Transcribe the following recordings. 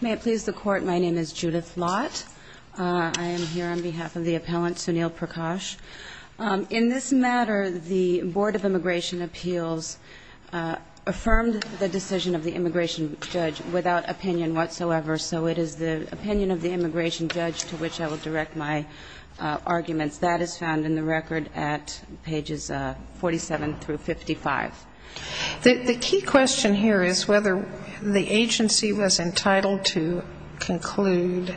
May it please the Court, my name is Judith Lott. I am here on behalf of the Appellant Sunil Prakash. In this matter, the Board of Immigration Appeals affirmed the decision of the immigration judge without opinion whatsoever. So it is the opinion of the immigration judge to which I will direct my arguments. That is found in the record at pages 47 through 55. The key question here is whether the agency was entitled to conclude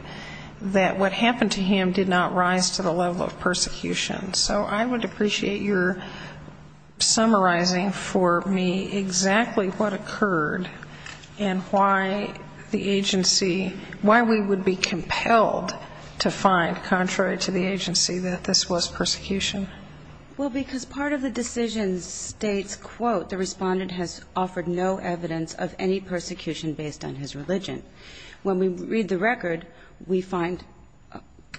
that what happened to him did not rise to the level of persecution. So I would appreciate your summarizing for me exactly what occurred and why the agency, why we would be compelled to find, contrary to the agency, that this was persecution. Well, because part of the decision states, quote, the Respondent has offered no evidence of any persecution based on his religion. When we read the record, we find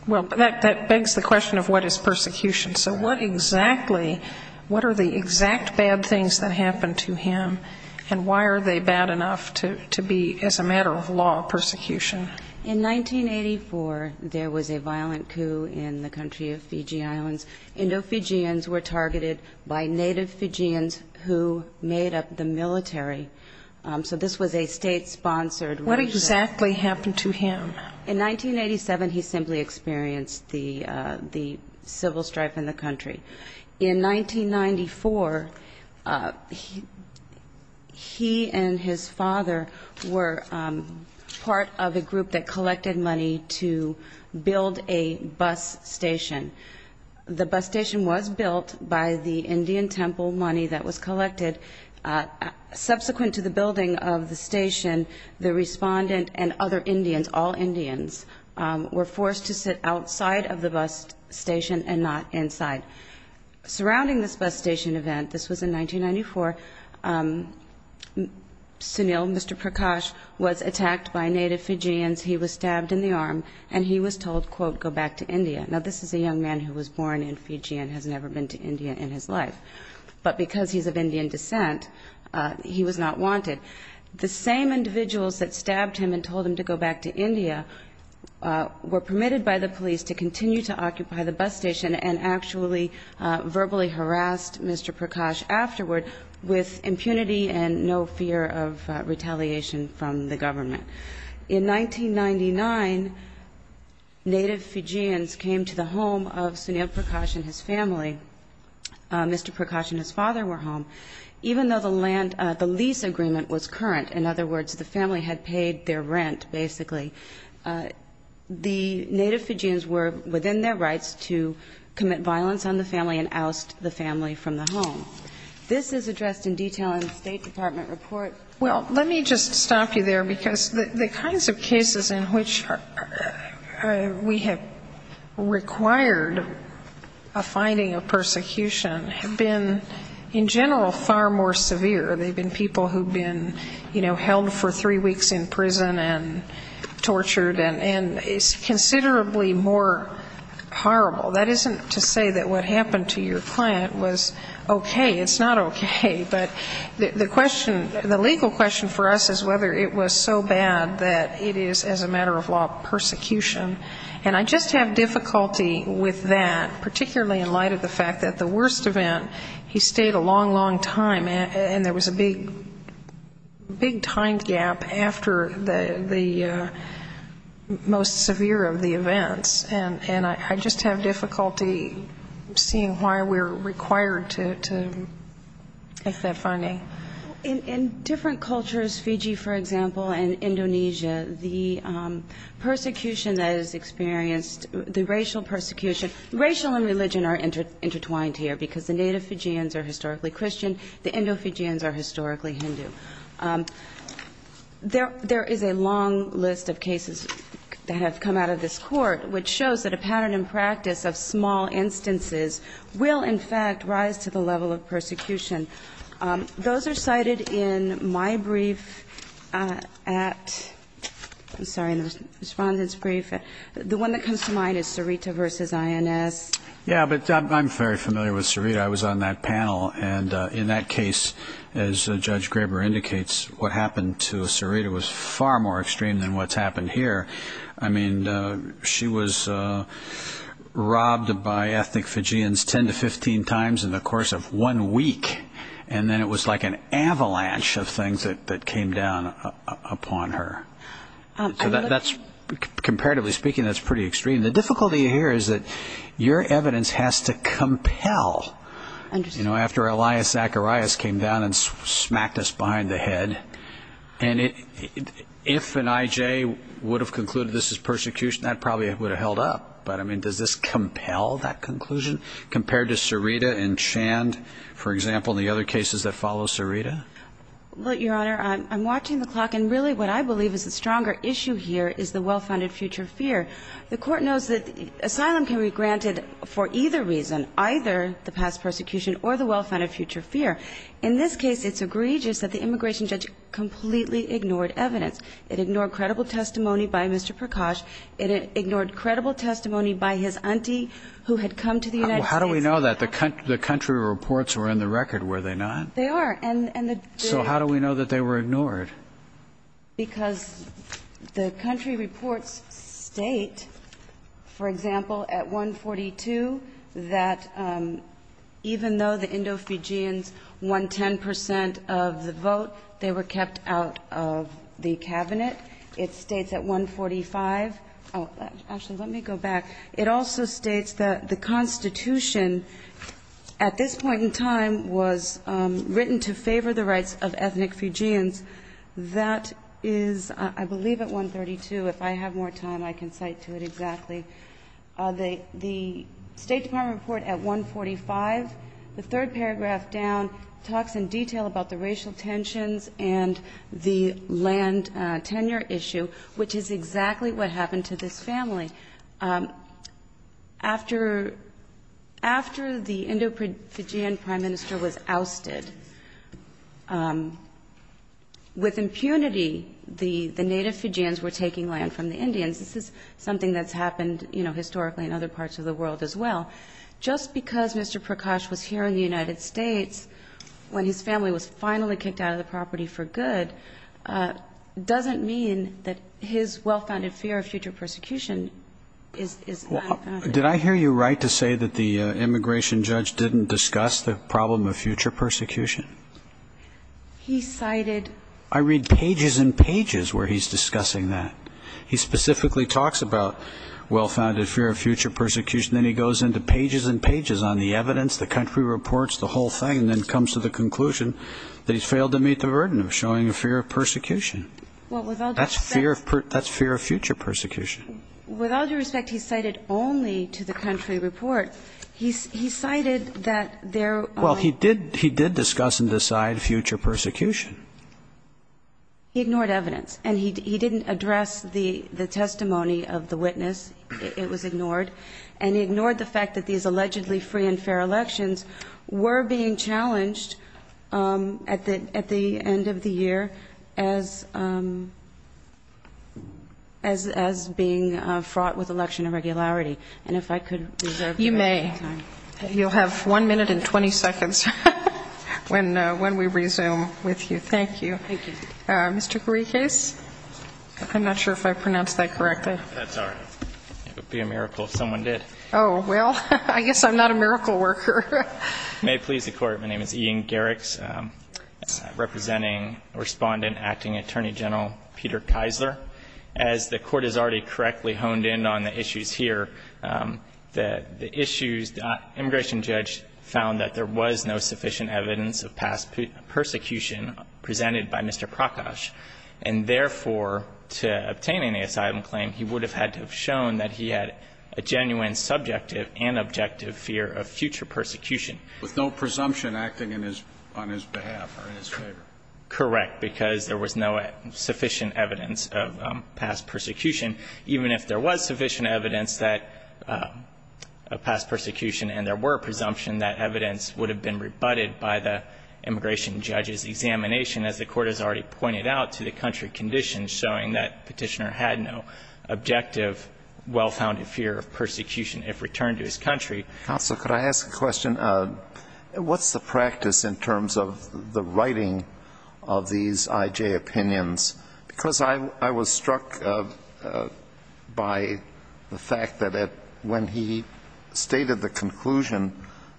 Well, that begs the question of what is persecution. So what exactly, what are the exact bad things that happened to him, and why are they bad enough to be, as a matter of law, persecution? In 1984, there was a violent coup in the country of Fiji Islands. Indo-Fijians were targeted by native Fijians who made up the military. So this was a state-sponsored What exactly happened to him? In 1987, he simply experienced the civil strife in the country. In 1994, he and his father were part of a group that collected money to build a bus station. The bus station was built by the Indian temple money that was collected. Subsequent to the building of the bus station, the Respondent and other Indians, all Indians, were forced to sit outside of the bus station and not inside. Surrounding this bus station event, this was in 1994, Sunil, Mr. Prakash, was attacked by native Fijians. He was stabbed in the arm, and he was told, quote, go back to India. Now, this is a young man who was born in Fiji and has never been to India in his life. But because he's of Indian descent, he was not wanted. The same individuals that stabbed him and told him to go back to India were permitted by the police to continue to occupy the bus station and actually verbally harassed Mr. Prakash afterward with impunity and no fear of retaliation from the government. In 1999, native Fijians came to the home of Sunil Prakash and his family. Mr. Prakash and his father were home. Even though the lease agreement was current, in other words, the family had paid their rent, basically, the native Fijians were within their rights to commit violence on the family and oust the family from the home. This is addressed in detail in the State Department report. Well, let me just stop you there, because the kinds of cases in which we have required a finding of persecution have been, in general, far more severe. They've been people who've been, you know, held for three weeks in prison and tortured, and it's considerably more horrible. That isn't to say that what happened to your client was okay. It's not okay. But the legal question for us is whether it was so bad that it is, as a matter of law, persecution. And I just have difficulty with that, particularly in light of the fact that the worst event, he stayed a long, long time, and there was a big, big time gap after the most severe of the events. And I just have difficulty seeing why we're required to make that finding. In different cultures, Fiji, for example, and Indonesia, the persecution that is experienced, the racial persecution, racial and religion are intertwined here, because the native Fijians are historically Christian, the Indo-Fijians are historically Hindu. There is a long list of cases that have come out of this Court which shows that a pattern and practice of small instances will, in fact, rise to the level of persecution. Those are cited in my brief at, I'm sorry, in the Respondent's brief. The one that comes to mind is Sarita v. INS. Yeah, but I'm very familiar with Sarita. I was on that panel, and in that case, as Judge Graber indicates, what happened to Sarita was far more extreme than what's happened here. I mean, she was robbed by ethnic Fijians 10 to 15 times in the course of one week, and then it was like an avalanche of things that came down upon her. Comparatively speaking, that's pretty extreme. The difficulty here is that your evidence has to compel, you know, after Elias Zacharias came down and smacked us behind the head. And if an I.J. were to have concluded this is persecution, that probably would have held up. But, I mean, does this compel that conclusion compared to Sarita and Chand, for example, and the other cases that follow Sarita? Well, Your Honor, I'm watching the clock, and really what I believe is the stronger issue here is the well-founded future fear. The Court knows that asylum can be granted for either reason, either the past persecution or the well-founded future fear. In this case, it's egregious that the immigration judge completely ignored evidence. It ignored credible testimony by Mr. Prakash. It ignored credible testimony by his auntie who had come to the United States. How do we know that? The country reports were in the record, were they not? They are. And the jury. So how do we know that they were ignored? Because the country reports state, for example, at 142 that even though the Indo-Fijians won 10 percent of the vote, they were kept out of the Cabinet. It states at 145 – oh, actually, let me go back. It also states that the Constitution at this point in time was written to favor the rights of ethnic Fijians. That is, I believe, at 132. If I have more time, I can cite to it exactly. The State Department report at 145, the third paragraph down, talks in detail about the racial tensions and the land tenure issue, which is exactly what happened to this family. After the Indo-Fijian prime minister was ousted, with impunity, the native Fijians were taking land from the Indians. This is something that's happened in the past. And, you know, historically in other parts of the world as well. Just because Mr. Prakash was here in the United States when his family was finally kicked out of the property for good doesn't mean that his well-founded fear of future persecution is not founded. Did I hear you right to say that the immigration judge didn't discuss the problem of future persecution? He cited – I read pages and pages where he's discussing that. He specifically talks about well-founded fear of future persecution, then he goes into pages and pages on the evidence, the country reports, the whole thing, and then comes to the conclusion that he's failed to meet the burden of showing a fear of persecution. That's fear of future persecution. With all due respect, he cited only to the country report. He cited that there are Well, he did discuss and decide future persecution. He ignored evidence. And he didn't address the testimony of the witness. It was ignored. And he ignored the fact that these allegedly free and fair elections were being challenged at the end of the year as being fraught with election irregularity. And if I could reserve your time. You'll have one minute and 20 seconds when we resume with you. Thank you. Thank you. Mr. Garikas? I'm not sure if I pronounced that correctly. That's all right. It would be a miracle if someone did. Oh, well, I guess I'm not a miracle worker. May it please the Court, my name is Ian Garikas, representing Respondent Acting Attorney General Peter Keisler. As the Court has already correctly honed in on the issue, the immigration judge found that there was no sufficient evidence of past persecution presented by Mr. Prakash. And therefore, to obtain an asylum claim, he would have had to have shown that he had a genuine subjective and objective fear of future persecution. With no presumption acting on his behalf or in his favor. Correct. Because there was no sufficient evidence of past persecution, even if there was sufficient evidence of past persecution and there were presumption that evidence would have been rebutted by the immigration judge's examination, as the Court has already pointed out, to the country conditions showing that petitioner had no objective, well-founded fear of persecution if returned to his country. Counsel, could I ask a question? What's the practice in terms of the writing of these IJ opinions? Because I was struck by the fact that when he stated the conclusion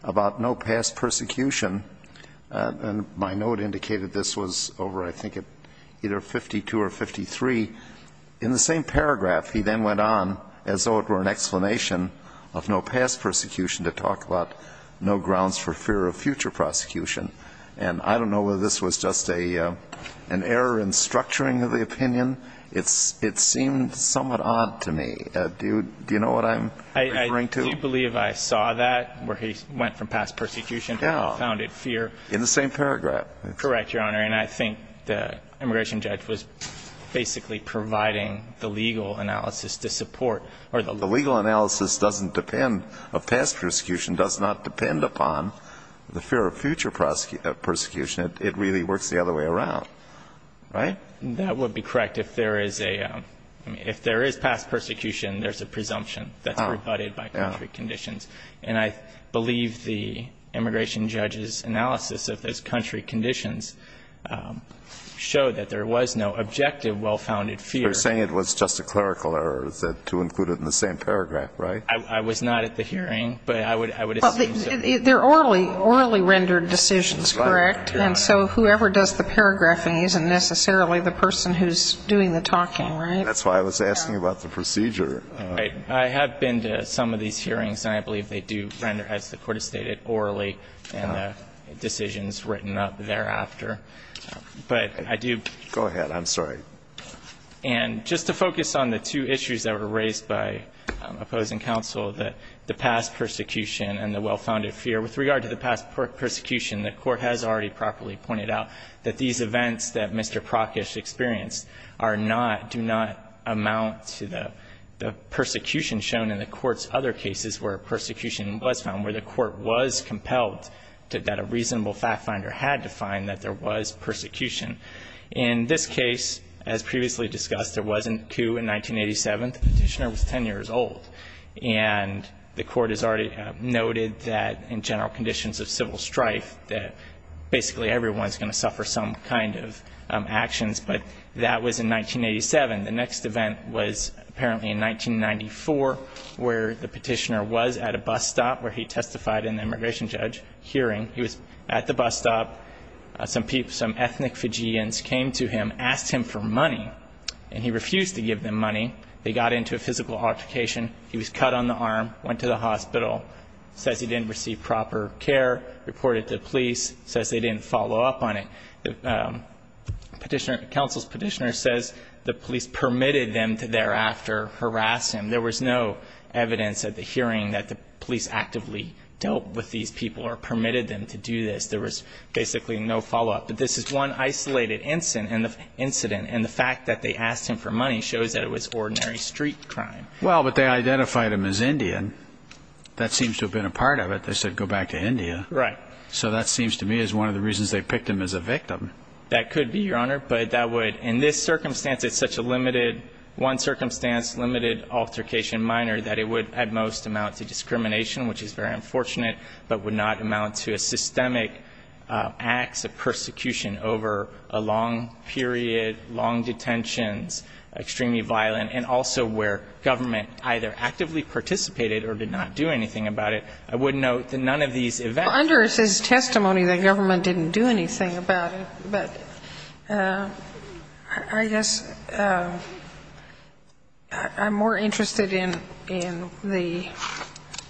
about no past persecution, and my note indicated this was over I think at either 52 or 53, in the same paragraph, he then went on as though it were an explanation of no past persecution to talk about no grounds for fear of future prosecution. And I don't know whether this was just an error in structuring of the opinion. It seemed somewhat odd to me. Do you know what I'm referring to? Do you believe I saw that, where he went from past persecution to well-founded fear? In the same paragraph. Correct, Your Honor. And I think the immigration judge was basically providing the legal analysis to support. The legal analysis doesn't depend, of past persecution, does not depend upon the fear of future persecution. It really works the other way around. Right? That would be correct. If there is a, if there is past persecution, there's a presumption that's rebutted by country conditions. And I believe the immigration judge's analysis of those country conditions showed that there was no objective well-founded fear. You're saying it was just a clerical error to include it in the same paragraph, right? I was not at the hearing, but I would assume so. They're orally rendered decisions, correct? Right, Your Honor. And so whoever does the paragraphing isn't necessarily the person who's doing the talking, right? That's why I was asking about the procedure. I have been to some of these hearings, and I believe they do render, as the Court has stated, orally, and the decisions written up thereafter. But I do go ahead. I'm sorry. And just to focus on the two issues that were raised by opposing counsel, that the past persecution and the well-founded fear. With regard to the past persecution, the Court has already properly pointed out that these events that Mr. Prockish experienced are not, do not amount to the persecution shown in the Court's other cases where persecution was found, where the Court was compelled to, that a reasonable fact finder had to find that there was persecution. In this case, as previously discussed, there wasn't a coup in 1987. The petitioner was 10 years old. And the Court has already noted that, in general conditions of civil strife, that basically everyone's going to suffer some kind of actions. But that was in 1987. The next event was apparently in 1994, where the petitioner was at a bus stop where he testified in an immigration judge hearing. He was at the bus stop. Some ethnic Fijians came to him, asked him for money, and he refused to give them money. They got into a physical altercation. He was cut on the arm, went to the hospital, says he didn't receive proper care, reported to the police, says they didn't follow up on it. The petitioner, counsel's petitioner, says the police permitted them to thereafter harass him. There was no evidence at the hearing that the police actively dealt with these people or permitted them to do this. There was basically no follow-up. But this is one isolated incident. And the fact that they asked him for money shows that it was ordinary street crime. Well, but they identified him as Indian. That seems to have been a part of it. They said, go back to India. Right. So that seems to me is one of the reasons they picked him as a victim. That could be, Your Honor. But that would, in this circumstance, it's such a limited, one-circumstance limited altercation minor that it would, at most, amount to discrimination, which is very unfortunate, but would not amount to a systemic acts of extremely violent, and also where government either actively participated or did not do anything about it. I would note that none of these events. Well, under his testimony, the government didn't do anything about it. But I guess I'm more interested in the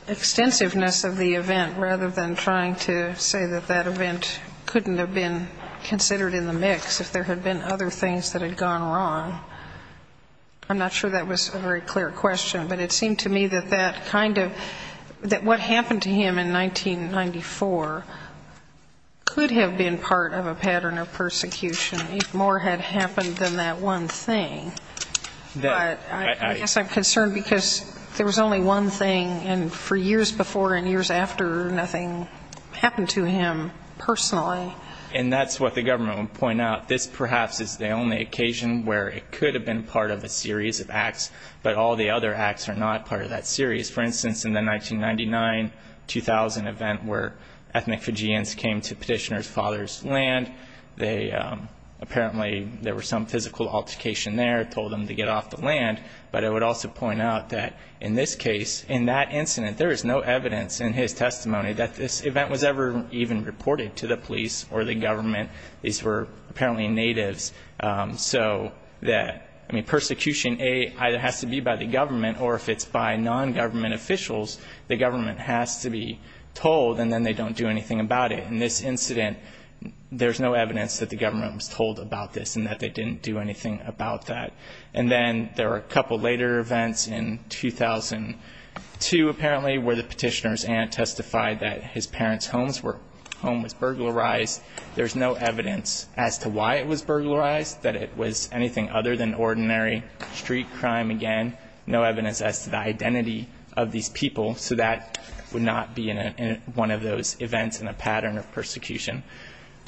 extensiveness of the event rather than trying to say that that event couldn't have been considered in the mix if there had been other things that had gone wrong. I'm not sure that was a very clear question, but it seemed to me that that kind of, that what happened to him in 1994 could have been part of a pattern of persecution if more had happened than that one thing. But I guess I'm concerned because there was only one thing, and for years before and years after, nothing happened to him personally. And that's what the government would point out. This perhaps is the only occasion where it could have been part of a series of acts, but all the other acts are not part of that series. For instance, in the 1999-2000 event where ethnic Fijians came to Petitioner's father's land, apparently there was some physical altercation there, told them to get off the land. But I would also point out that in this case, in that incident, there is no evidence in his testimony that this event was ever even reported to the police or the government. These were apparently natives. So that, I mean, persecution, A, either has to be by the government, or if it's by non-government officials, the government has to be told and then they don't do anything about it. In this incident, there's no evidence that the government was told about this and that they didn't do anything about that. And then there were a couple later events in 2002, apparently, where the Petitioner's aunt testified that his parents' home was burglarized. There's no evidence as to why it was burglarized, that it was anything other than ordinary street crime again. No evidence as to the identity of these people. So that would not be in one of those events in a pattern of persecution.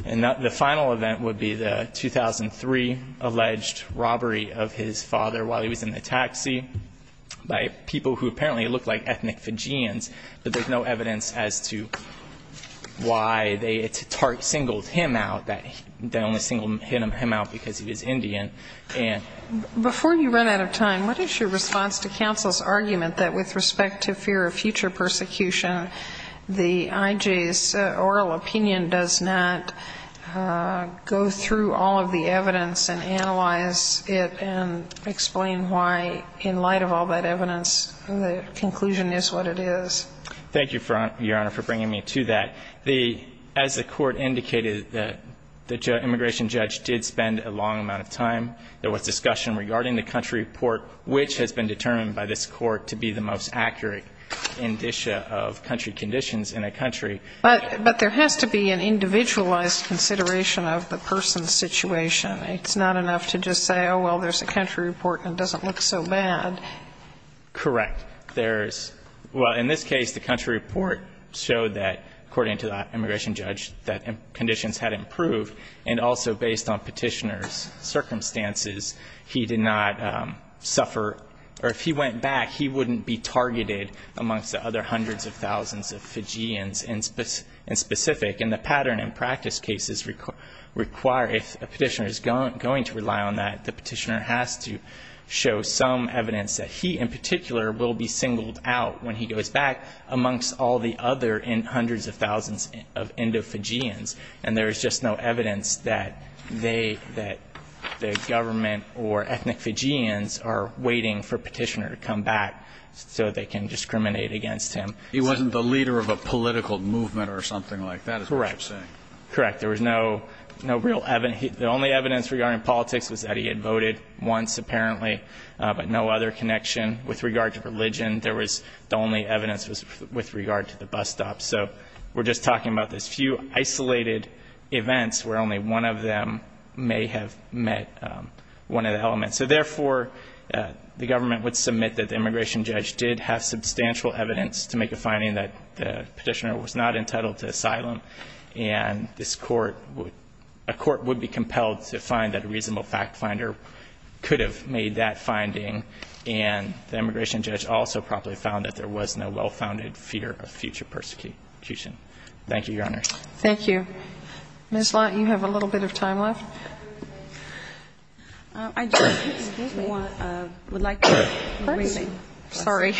And the final event would be the 2003 alleged robbery of his father while he was in the taxi by people who apparently looked like ethnic Fijians. But there's no evidence as to why they singled him out, that they only singled him out because he was Indian. Before you run out of time, what is your response to counsel's argument that with respect to fear of future persecution, the IJ's oral opinion does not go through all of the evidence and analyze it and explain why, in light of all that evidence, the conclusion is what it is? Thank you, Your Honor, for bringing me to that. As the Court indicated, the immigration judge did spend a long amount of time. There was discussion regarding the country report, which has been determined by this Court to be the most accurate indicia of country conditions in a country. But there has to be an individualized consideration of the person's situation. It's not enough to just say, oh, well, there's a country report and it doesn't look so bad. Correct. There's – well, in this case, the country report showed that, according to the immigration judge, that conditions had improved. And also based on Petitioner's circumstances, he did not suffer – or if he went back, he wouldn't be targeted amongst the other hundreds of thousands of Fijians in specific. And the pattern in practice cases require – if a Petitioner is going to rely on that, the Petitioner has to show some evidence that he, in particular, will be singled out when he goes back amongst all the other hundreds of thousands of Indo-Fijians. And there is just no evidence that they – that the government or ethnic Fijians are waiting for Petitioner to come back so they can discriminate against him. He wasn't the leader of a political movement or something like that, is what you're saying. Correct. Correct. There was no real – the only evidence regarding politics was that he had voted once, apparently, but no other connection. With regard to religion, there was – the only evidence was with regard to the bus stops. So we're just talking about this few isolated events where only one of them may have met one of the elements. And so, therefore, the government would submit that the immigration judge did have substantial evidence to make a finding that the Petitioner was not entitled to asylum and this court would – a court would be compelled to find that a reasonable fact finder could have made that finding. And the immigration judge also probably found that there was no well-founded fear of future persecution. Thank you, Your Honor. Thank you. Ms. Lott, you have a little bit of time left. I just – Excuse me. Would like to – Pardon me. Sorry.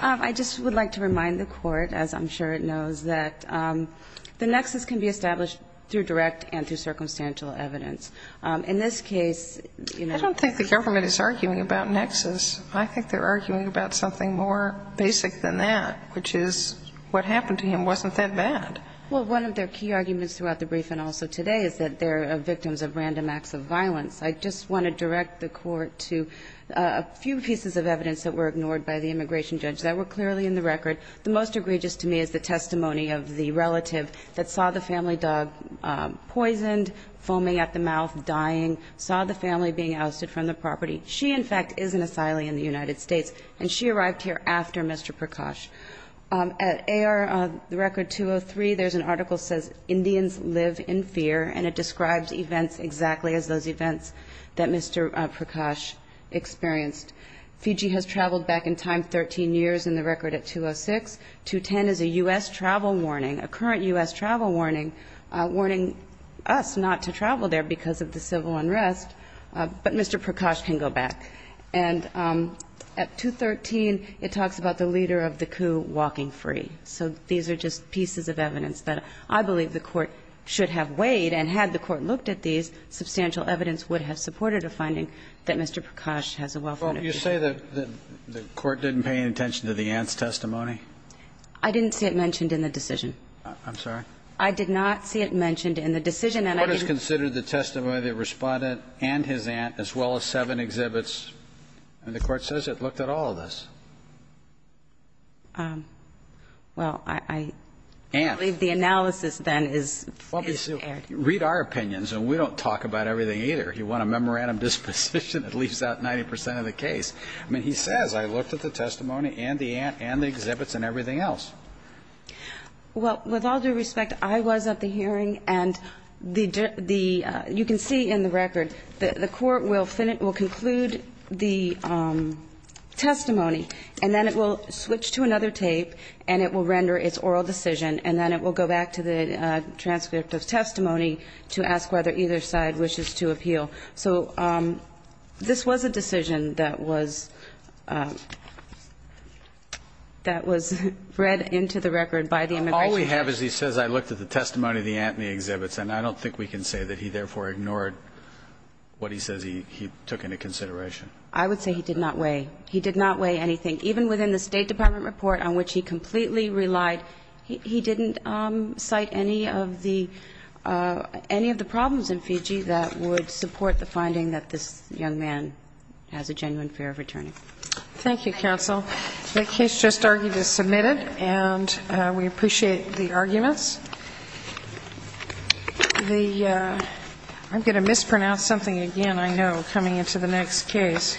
I just would like to remind the Court, as I'm sure it knows, that the nexus can be established through direct and through circumstantial evidence. In this case, you know – I don't think the government is arguing about nexus. I think they're arguing about something more basic than that, which is what happened to him wasn't that bad. Well, one of their key arguments throughout the brief and also today is that they're victims of random acts of violence. I just want to direct the Court to a few pieces of evidence that were ignored by the immigration judge that were clearly in the record. The most egregious to me is the testimony of the relative that saw the family dog poisoned, foaming at the mouth, dying, saw the family being ousted from the property. She, in fact, is an asylee in the United States, and she arrived here after Mr. Prakash. At AR – the record 203, there's an article that says, Indians live in fear, and it describes events exactly as those events that Mr. Prakash experienced. Fiji has traveled back in time 13 years in the record at 206. 210 is a U.S. travel warning, a current U.S. travel warning, warning us not to travel there because of the civil unrest, but Mr. Prakash can go back. And at 213, it talks about the leader of the coup walking free. So these are just pieces of evidence that I believe the Court should have weighed, and had the Court looked at these, substantial evidence would have supported a finding that Mr. Prakash has a well-founded history. Well, you say that the Court didn't pay any attention to the aunt's testimony? I didn't see it mentioned in the decision. I'm sorry? I did not see it mentioned in the decision, and I didn't... The Court has considered the testimony of the respondent and his aunt, as well as seven exhibits, and the Court says it looked at all of this. Well, I believe the analysis then is... Read our opinions, and we don't talk about everything either. You want a memorandum disposition that leaves out 90% of the case. I mean, he says, I looked at the testimony and the aunt and the exhibits and everything else. Well, with all due respect, I was at the hearing, and you can see in the record that the Court will conclude the testimony and then it will switch to another tape and it will render its oral decision and then it will go back to the transcript of testimony to ask whether either side wishes to appeal. So this was a decision that was... that was read into the record by the immigration judge. All we have is he says, I looked at the testimony and the aunt and the exhibits, and I don't think we can say that he therefore ignored what he says he took into consideration. I would say he did not weigh. He did not weigh anything. Even within the State Department report on which he completely relied, he didn't cite any of the... any of the problems in Fiji that would support the finding that this young man has a genuine fear of returning. Thank you, counsel. The case just argued is submitted, and we appreciate the arguments. The... I'm going to mispronounce something again, I know, coming into the next case.